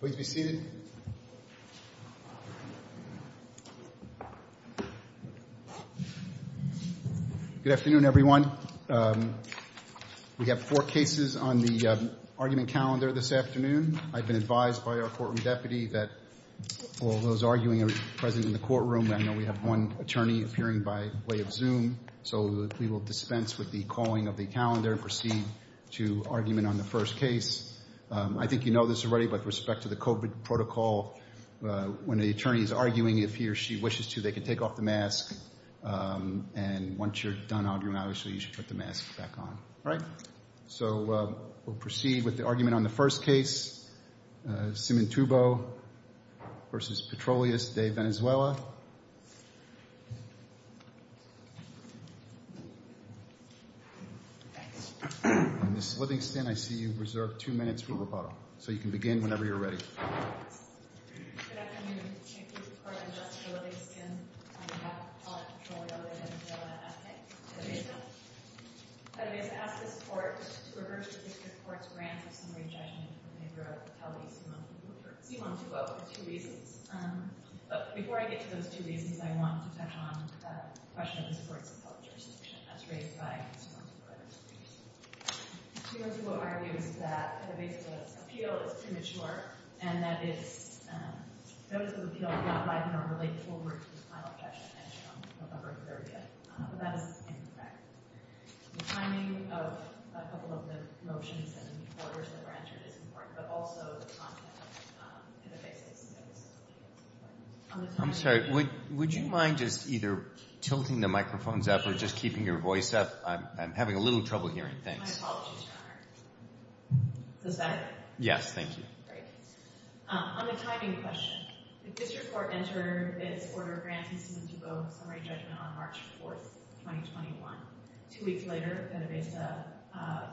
Please be seated. Good afternoon, everyone. We have four cases on the argument calendar this afternoon. I've been advised by our courtroom deputy that all those arguing are present in the courtroom. I know we have one attorney appearing by way of Zoom, so we will dispense with the calling of the calendar and proceed to argument on the first case. I think you know this already with respect to the COVID protocol. When the attorney is arguing, if he or she wishes to, they can take off the mask. And once you're done arguing, obviously, you should put the mask back on. All right. So we'll proceed with the argument on the first case, Cimontubo v. Petroleos De Venezuela. Ms. Livingston, I see you reserve two minutes for rebuttal. So you can begin when ever you're ready. Good afternoon. Thank you, Your Honor. I'm Justice Livingston on behalf of Petroleos De Venezuela, S.A. Petibas, I ask this Court to reverse the District Court's grant of summary judgment in favor of Petelvis, Cimontubo, for Cimontubo for two reasons. But before I get to those two reasons, I want to touch on the question of the courts of public jurisdiction as raised by Ms. Cimontubo. Ms. Cimontubo argues that Petelvis' appeal is premature and that its notice of appeal is not liable to relate forward to the final judgment issued on November 30th. But that is incorrect. The timing of a couple of the motions and the reporters that were entered is important, but also the content of Petelvis' notice of appeal is important. I'm sorry. Would you mind just either tilting the microphones up or just keeping your voice up? I'm having a little trouble hearing things. My apologies, Your Honor. Is this better? Yes, thank you. Great. On the timing question, the District Court entered its order granting Cimontubo summary judgment on March 4th, 2021. Two weeks later, Petelvis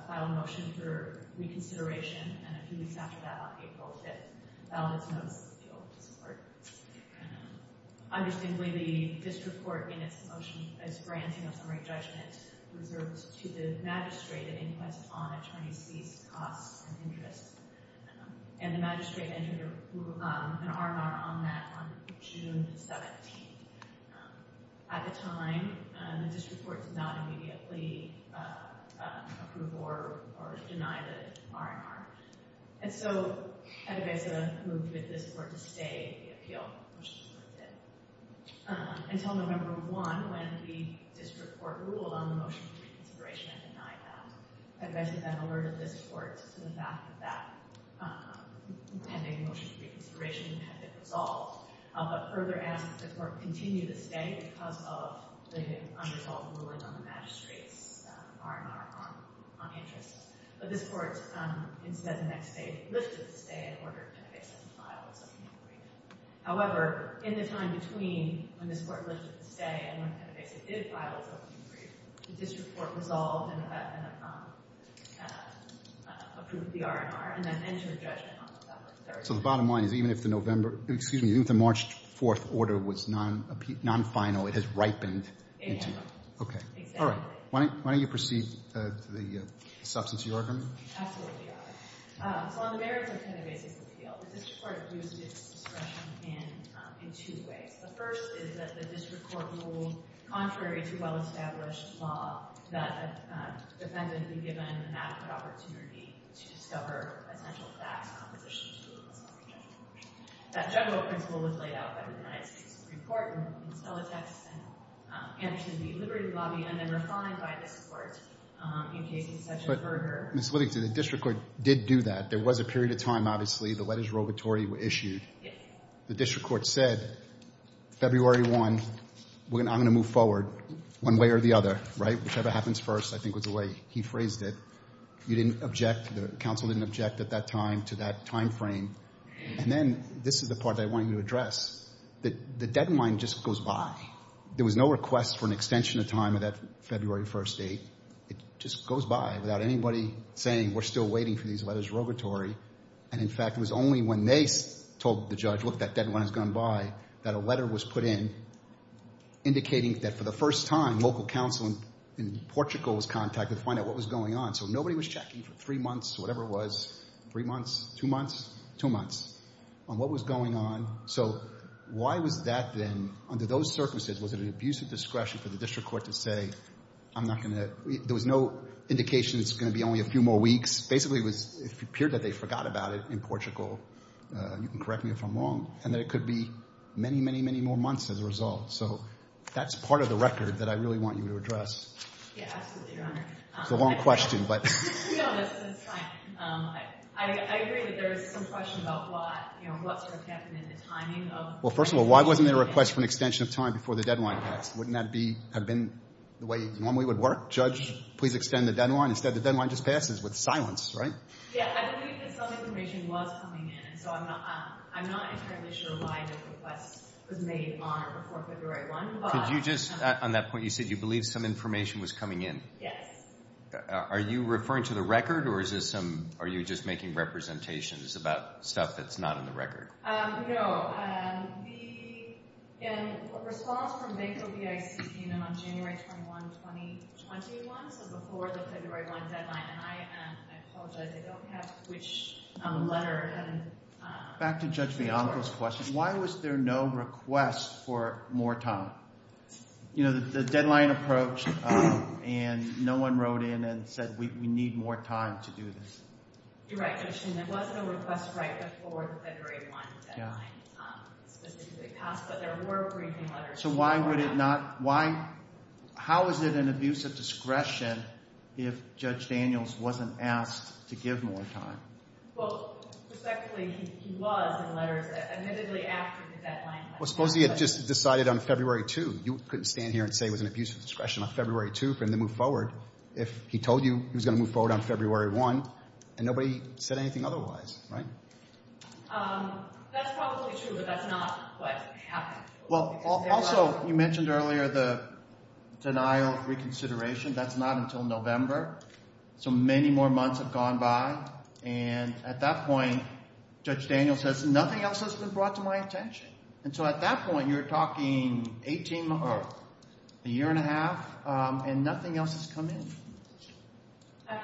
filed a motion for reconsideration, and a few weeks after that, on April 5th, filed its notice of appeal to support. Understandably, the District Court in its motion is granting a summary judgment reserved to the magistrate at inquest on attorneys' fees, costs, and interests, and the magistrate entered an R&R on that on June 17th. At the time, the District Court did not immediately approve or deny the R&R, and so Petelvis moved with this order to stay the appeal, which the Court did, until November 1, when the District Court ruled on the motion for reconsideration and denied that. Petelvis then alerted this Court to the fact that that pending motion for reconsideration had been resolved, but further asked that the Court continue to stay because of the unresolved ruling on the magistrate's R&R on interests. But this Court instead, the next day, lifted the stay and ordered Petelvis to file its appeal. However, in the time between when this Court lifted the stay and when Petelvis did file its appeal, the District Court resolved and approved the R&R and then entered a judgment on November 3rd. So the bottom line is, even if the November, excuse me, even if the March 4th order was non-final, it has ripened? Exactly. Okay. All right. Why don't you proceed to the substance of your argument? Absolutely. So on the merits of Petelvis' appeal, the District Court abused its discretion in two ways. The first is that the District Court ruled contrary to well-established law that a defendant be given an adequate opportunity to discover essential facts on a position to rule in a summary judgment. That general principle was laid out by the United States Supreme Court in Stella Texas and should be liberally lobbied on and refined by this Court in cases such as Berger. But, Ms. Livingston, the District did do that. There was a period of time, obviously, the letters of obituary were issued. The District Court said, February 1, I'm going to move forward one way or the other, right? Whichever happens first, I think was the way he phrased it. You didn't object, the counsel didn't object at that time to that timeframe. And then this is the part that I want you to address. The deadline just goes by. There was no request for an extension of time of that February 1 date. It just goes by without anybody saying we're still waiting for these letters of obituary. And in fact, it was only when they told the judge, look, that deadline has gone by, that a letter was put in indicating that for the first time local counsel in Portugal was contacted to find out what was going on. So nobody was checking for three months, whatever it was, three months, two months, two months, on what was going on. So why was that then, under those circumstances, was it an abuse of discretion for the District Court to say, I'm not going to, there was no indication it's going to be only a few more weeks. Basically, it appeared that they forgot about it in Portugal. You can correct me if I'm wrong. And that it could be many, many, many more months as a result. So that's part of the record that I really want you to address. Yeah, absolutely, Your Honor. It's a long question, but... No, that's fine. I agree that there is some question about what, you know, what sort of happened in the timing of... First of all, why wasn't there a request for an extension of time before the deadline passed? Wouldn't that have been the way it normally would work? Judge, please extend the deadline. Instead, the deadline just passes with silence, right? Yeah, I believe that some information was coming in. So I'm not entirely sure why the request was made on or before February 1. Could you just, on that point, you said you believe some information was coming in. Yes. Are you referring to the record or is this some, are you just making representations about stuff that's not in the record? No, the response from Bank of the ICC and on January 21, 2021, so before the February 1 deadline, and I apologize, I don't have which letter and... Back to Judge Bianco's question, why was there no request for more time? You know, the deadline approached and no one wrote in and said, we need more time to do this. You're right, Judge, and there was no request right before the February 1 deadline for specific costs, but there were briefing letters... So why would it not, why, how is it an abuse of discretion if Judge Daniels wasn't asked to give more time? Well, respectfully, he was in letters admittedly after the deadline... Well, suppose he had just decided on February 2. You couldn't stand here and say it was an abuse of discretion on February 2 for him to move forward if he told you he was going to move forward on February 1, and nobody said anything otherwise, right? That's probably true, but that's not what happened. Well, also, you mentioned earlier the denial of reconsideration. That's not until November, so many more months have gone by, and at that point, Judge Daniels says, nothing else has been brought to my attention. And so at that point, you're talking 18, or a year and a half, and nothing else has come in. Um,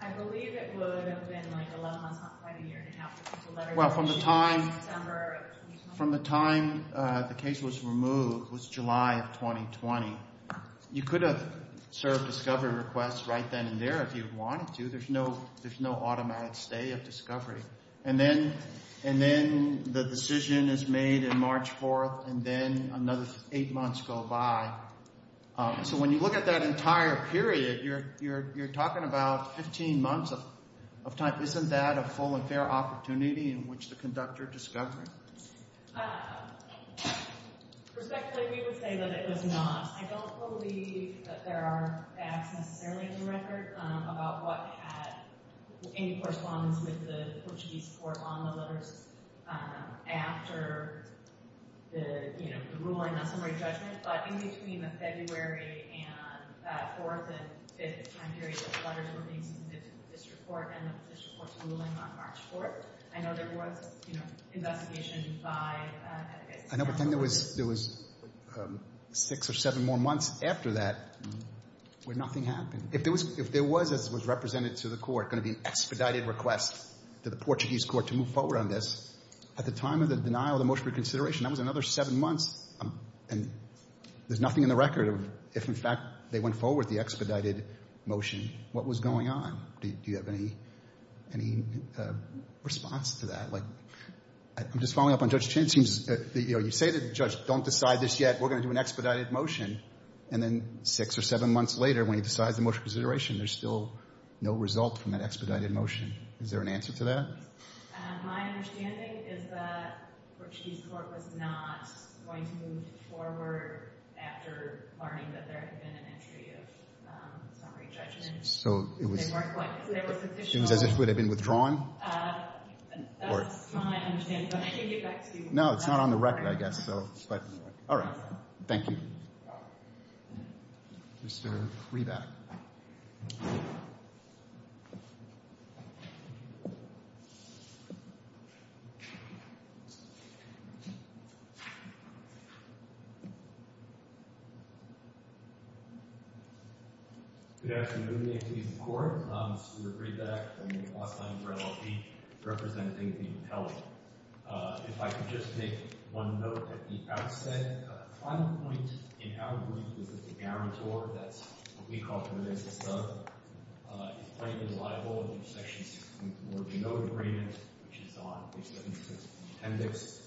I believe it would have been like 11 months, not quite a year and a half. Well, from the time, from the time the case was removed was July of 2020. You could have served discovery requests right then and there if you wanted to. There's no, there's no automatic stay of discovery, and then, and then the decision is made in March 4th, and then another eight months go by. So when you look at that entire period, you're, you're, you're talking about 15 months of, of time. Isn't that a full and fair opportunity in which to conduct your discovery? Respectfully, we would say that it was not. I don't believe that there are facts necessarily in the record about what had any correspondence with the Portuguese court on the letters um, after the, you know, the ruling, not summary judgment, but in between the February and, uh, 4th and 5th time periods of letters were being submitted to the district court, and the district court's ruling on March 4th. I know there was, you know, investigation by, uh, I guess. I know, but then there was, there was, um, six or seven more months after that where nothing happened. If there was, if there was, as was represented to the court, going to be expedited requests to the Portuguese court to move forward on this. At the time of the denial of the motion for consideration, that was another seven months, and there's nothing in the record of if, in fact, they went forward with the expedited motion, what was going on. Do you have any, any, uh, response to that? Like, I'm just following up on Judge Chin. It seems that, you know, you say to the judge, don't decide this yet. We're going to do an expedited motion, and then six or seven months later, when he decides the motion for consideration, there's still no result from that expedited motion. Is there an answer to that? My understanding is that Portuguese court was not going to move forward after learning that there had been an entry of, um, summary judgment. So, it was, it was as if it would have been withdrawn? Uh, that's my understanding, but I can get back to you. No, it's not on the record, I guess. So, but, all right. Thank you. Mr. Reback. Good afternoon. My name is Corey. Um, this is Rick Reback from the Los Angeles LLP, representing the appellate. Uh, if I could just make one note at the outset. Uh, the final point in our brief is that the guarantor, that's what we call the defensive sub, uh, is plainly liable under Section 164 of the note agreement, which is on page 76 of the appendix,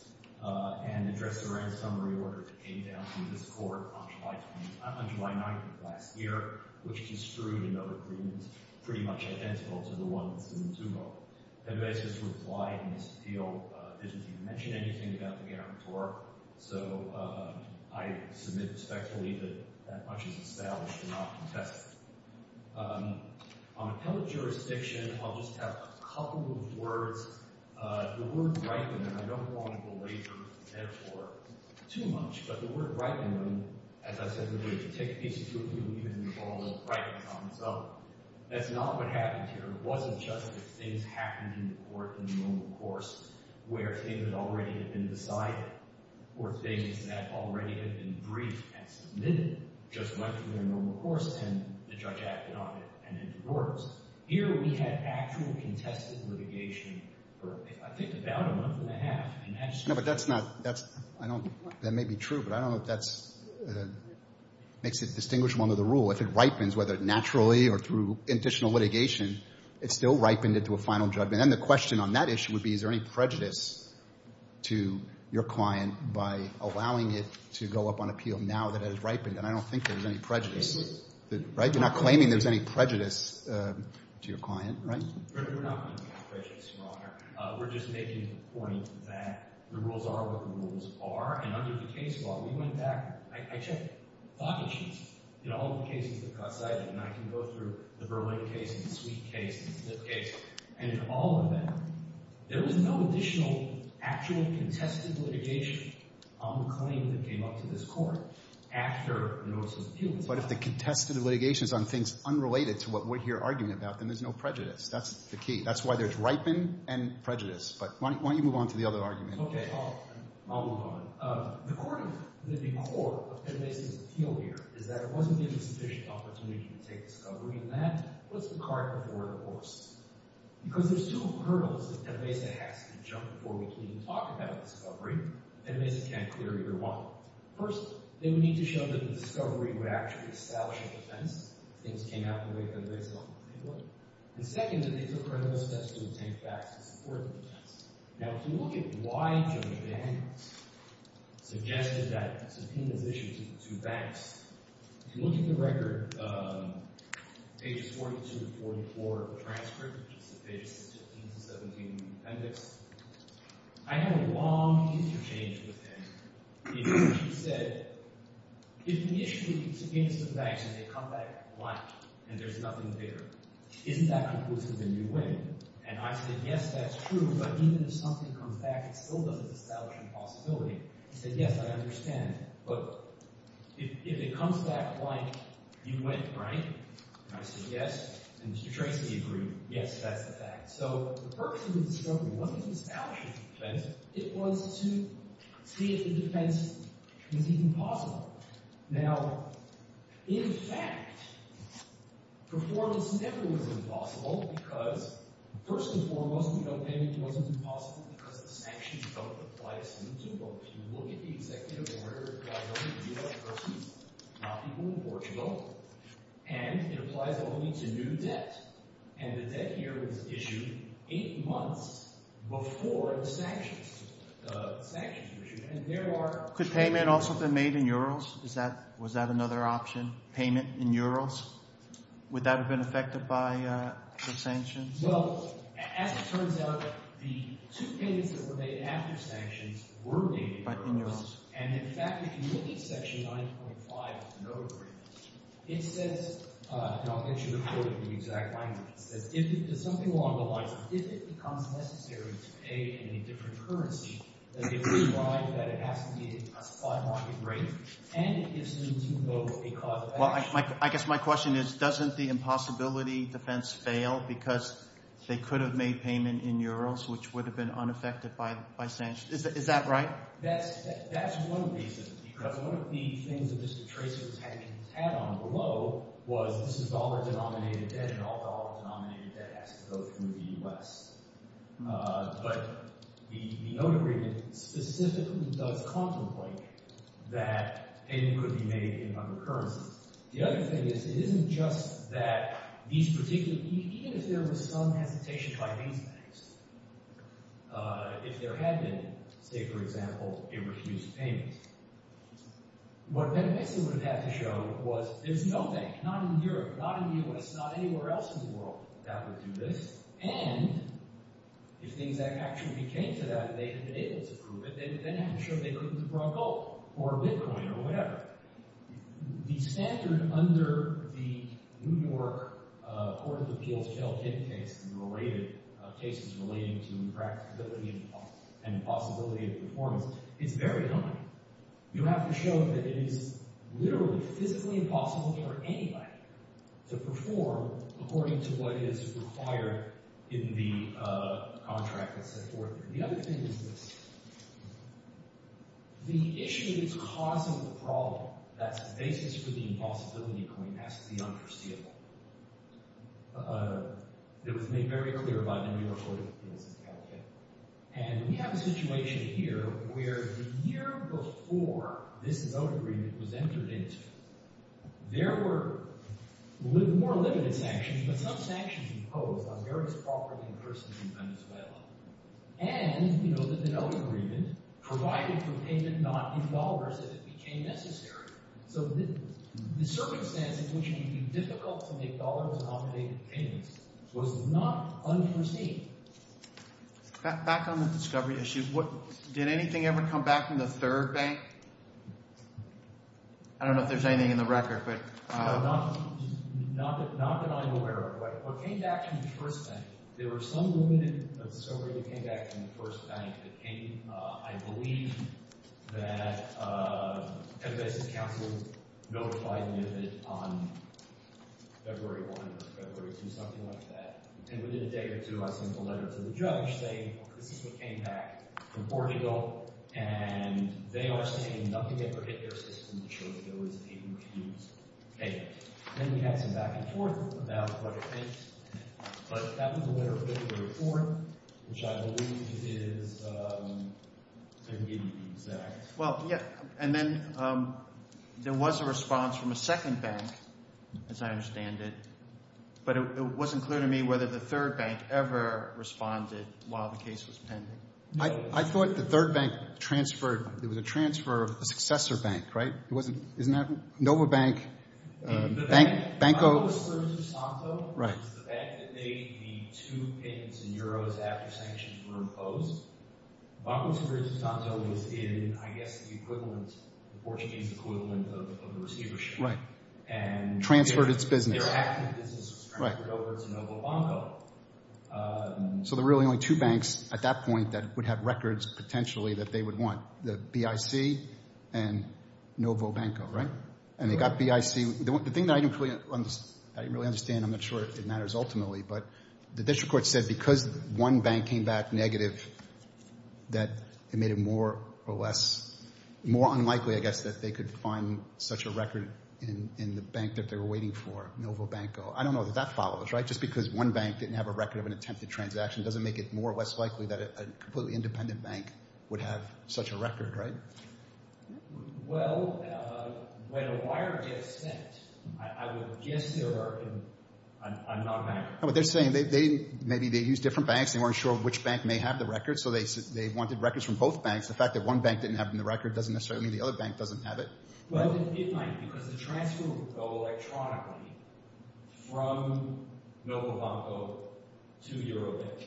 uh, and addressed a ransommary order that came down to this court on July 20th, uh, on July 9th of last year, which construed a note agreement pretty much identical to the one that's in the two-vote. And I just replied in this deal, uh, didn't even mention anything about the guarantor. So, uh, I submit respectfully that that much is established and not contested. Um, on appellate jurisdiction, I'll just have a couple of words. Uh, the word ripen, and I don't want to belabor the metaphor too much, but the word ripen, as I said in the case, uh, that's not what happened here. It wasn't just that things happened in the court in the normal course where things had already been decided or things that already had been briefed and submitted just went through their normal course and the judge acted on it and it works. Here, we had actual contested litigation for, I think, about a month and a half, and that's true. I don't, that may be true, but I don't know if that's, uh, makes it distinguishable under the rule. If it ripens, whether naturally or through additional litigation, it still ripened into a final judgment. And the question on that issue would be, is there any prejudice to your client by allowing it to go up on appeal now that it has ripened? And I don't think there's any prejudice, right? You're not claiming there's any prejudice to your client, right? We're not claiming there's any prejudice, Your Honor. Uh, we're just making the point that the rules are what the rules are, and under the case law, we went back, I, I checked pocket sheets, you know, all the cases that got cited, and I can go through the Berlin case and the Sweet case and the Zip case, and in all of them, there was no additional actual contested litigation on the claim that came up to this court after the notice was appealed. But if the contested litigation is on things unrelated to what we're here arguing about, then there's no prejudice. That's the key. That's why there's ripen and prejudice. But why don't you move on to the other argument? Okay, I'll, I'll move on. Um, the court of, the core of Pennesa's appeal here is that it wasn't given sufficient opportunity to take discovery, and that puts the cart before the horse. Because there's two hurdles that Pennesa has to jump before we can even talk about discovery, and Pennesa can't clear either one. First, they would need to show that the discovery would actually establish a defense if things came out the way Pennesa thought they would. And second, that they took credible steps to obtain facts to support the defense. Now, if you look at why Judge Daniels suggested that the subpoenas issued to the two banks, if you look at the record, um, pages 42 to 44 of the transcript, which is the pages 15 to 17 of the appendix, I had a long interchange with him. And he said, if the issue is against the banks and they come back blank and there's nothing there, isn't that conclusive that you win? And I said, yes, that's true, but even if something comes back, it still doesn't establish a possibility. Now, in fact, performance never was impossible because, first and foremost, we don't know if it wasn't impossible because the sanctions don't apply to some people. Could payment also have been made in euros? Was that another option, payment in euros? Would that have been affected by the sanctions? Well, as it turns out, the two payments that were made after sanctions were made in euros. But in euros. Well, I guess my question is, doesn't the impossibility defense fail because they could have made payment in euros, which would have been unaffected by sanctions? Is that right? Now, that's one reason. Because one of the things that Mr. Tracy was having to tap on below was this is dollar-denominated debt and all dollar-denominated debt has to go through the US. But the note agreement specifically does contemplate that payment could be made in other currencies. The other thing is, it isn't just that these particular—even if there was some hesitation by these banks, if there had been, say, for example, a refused payment, what Benefice would have had to show was there's no bank, not in Europe, not in the US, not anywhere else in the world, that would do this. And if things actually became to that, they would have been able to prove it. They would then have to show they couldn't have brought gold or bitcoin or whatever. The standard under the New York Court of Appeals Kelvin case and related cases relating to impracticability and impossibility of performance is very high. You have to show that it is literally physically impossible for anybody to perform according to what is required in the contract that's set forth there. The other thing is this. The issue that's causing the problem, that's the basis for the impossibility claim, has to be unforeseeable. It was made very clear by the New York Court of Appeals in California. And we have a situation here where the year before this note agreement was entered into, there were more limited sanctions, but some sanctions imposed on various property and persons in Venezuela. And, you know, the note agreement provided for payment not in dollars if it became necessary. So the circumstance in which it would be difficult to make dollars-nominated payments was not unforeseen. Back on the discovery issue, did anything ever come back from the third bank? I don't know if there's anything in the record. Not that I'm aware of. But what came back from the first bank, there were some limited discovery that came back from the first bank that came, I believe, that the Federal Basis Council notified NIFID on February 1 or February 2, something like that. And within a day or two, I sent a letter to the judge saying, well, this is what came back from Portugal. And they are saying nothing ever hit their system to show that there was a payment refused. Then we had some back and forth about what it is. But that was a letter from the court, which I believe is to give you the exact – Well, yeah, and then there was a response from a second bank, as I understand it. But it wasn't clear to me whether the third bank ever responded while the case was pending. I thought the third bank transferred. It was a transfer of a successor bank, right? It wasn't – isn't that Nova Bank? The bank – Banco – Banco Sergio Santos was the bank that made the two payments in euros after sanctions were imposed. Banco Sergio Santos was in, I guess, the equivalent – the Portuguese equivalent of the receivership. Right. And – Transferred its business. Their active business was transferred over to Nova Banco. So there were really only two banks at that point that would have records potentially that they would want, the BIC and Nova Banco, right? And they got BIC. The thing that I didn't really – I didn't really understand. I'm not sure it matters ultimately. But the district court said because one bank came back negative that it made it more or less – more unlikely, I guess, that they could find such a record in the bank that they were waiting for, Nova Banco. I don't know that that follows, right? Just because one bank didn't have a record of an attempted transaction doesn't make it more or less likely that a completely independent bank would have such a record, right? Well, when a wire gets sent, I would guess they're – I'm not a banker. No, but they're saying they didn't – maybe they used different banks. They weren't sure which bank may have the record. So they wanted records from both banks. The fact that one bank didn't have it in the record doesn't necessarily mean the other bank doesn't have it. Well, it might because the transfer would go electronically from Nova Banco to EuroBIC.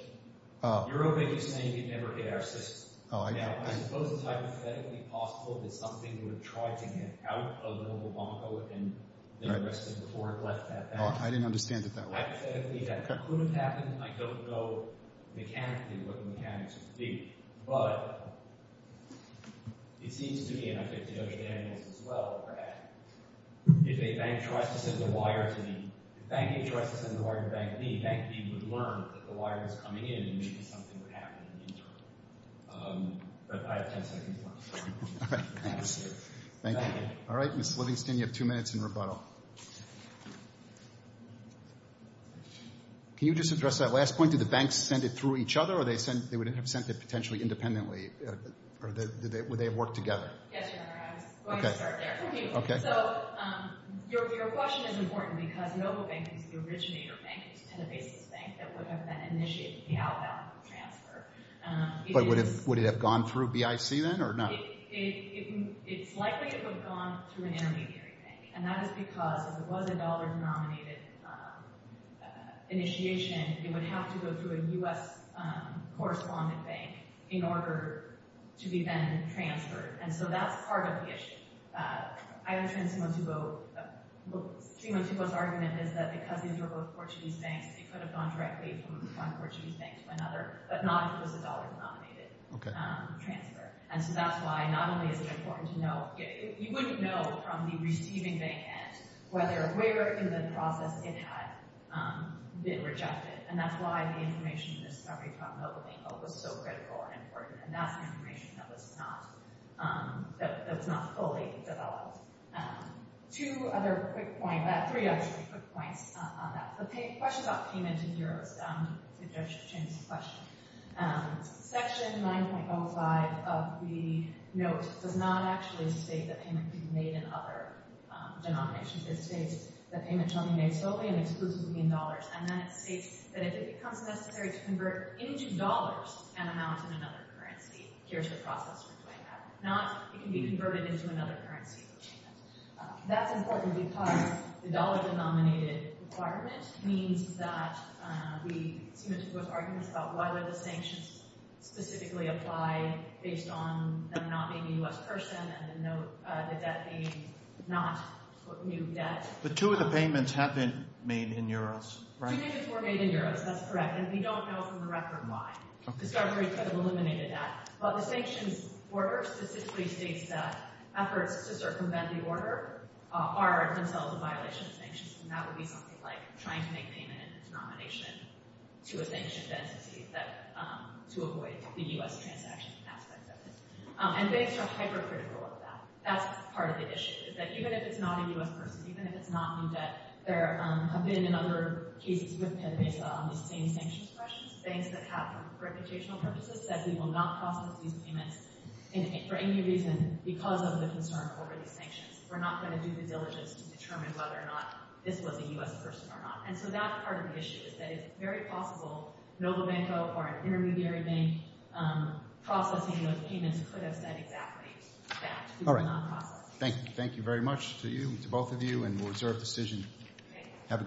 EuroBIC is saying it never hit our system. Now, I suppose it's hypothetically possible that something would have tried to get out of Nova Banco and then arrested before it left that bank. I didn't understand it that way. Hypothetically, that couldn't happen. I don't know mechanically what the mechanics would be. But it seems to me, and I think to Josh Daniels as well, that if a bank tries to send a wire to me – if banking tries to send a wire to Bank B, Bank B would learn that the wire was coming in and maybe something would happen in the interim. But I have 10 seconds left. All right. Thanks. Thank you. All right, Mr. Livingston, you have two minutes in rebuttal. Can you just address that last point? Did the banks send it through each other or they would have sent it potentially independently? Or would they have worked together? Yes, Your Honor, I was going to start there. Okay. So your question is important because Nova Banco is the originator bank. It's a ten-basis bank that would have then initiated the outbound transfer. But would it have gone through BIC then or not? It's likely it would have gone through an intermediary bank. And that is because if it was a dollar-denominated initiation, it would have to go through a U.S. correspondent bank in order to be then transferred. And so that's part of the issue. I understand Simo Tubo – Simo Tubo's argument is that because these are both Portuguese banks, it could have gone directly from one Portuguese bank to another, but not if it was a dollar-denominated transfer. And so that's why not only is it important to know – you wouldn't know from the receiving bank end whether – where in the process it had been rejected. And that's why the information in this summary from Nova Banco was so critical and important. And that's information that was not – that was not fully developed. Two other quick points – three, actually, quick points on that. The question about payment in euros. I think I should change the question. Section 9.05 of the note does not actually state that payment can be made in other denominations. It states that payment can only be made solely and exclusively in dollars. And then it states that if it becomes necessary to convert into dollars an amount in another currency, here's the process for doing that. Not it can be converted into another currency. That's important because the dollar-denominated requirement means that we – excuse me – there was arguments about why would the sanctions specifically apply based on them not being a U.S. person and the note – the debt being not new debt. But two of the payments have been made in euros, right? Two payments were made in euros. That's correct. And we don't know from the record why. But the sanctions order statistically states that efforts to circumvent the order are in themselves a violation of sanctions. And that would be something like trying to make payment in a denomination to a sanctioned entity to avoid the U.S. transaction aspect of it. And banks are hypercritical of that. That's part of the issue is that even if it's not a U.S. person, even if it's not new debt, there have been in other cases based on the same sanctions questions, banks that have, for reputational purposes, said we will not process these payments for any reason because of the concern over these sanctions. We're not going to do the diligence to determine whether or not this was a U.S. person or not. And so that's part of the issue is that it's very possible NovoBanco or an intermediary bank processing those payments could have said exactly that. All right. Thank you. Thank you very much to you, to both of you, and we'll reserve the decision. Have a good day.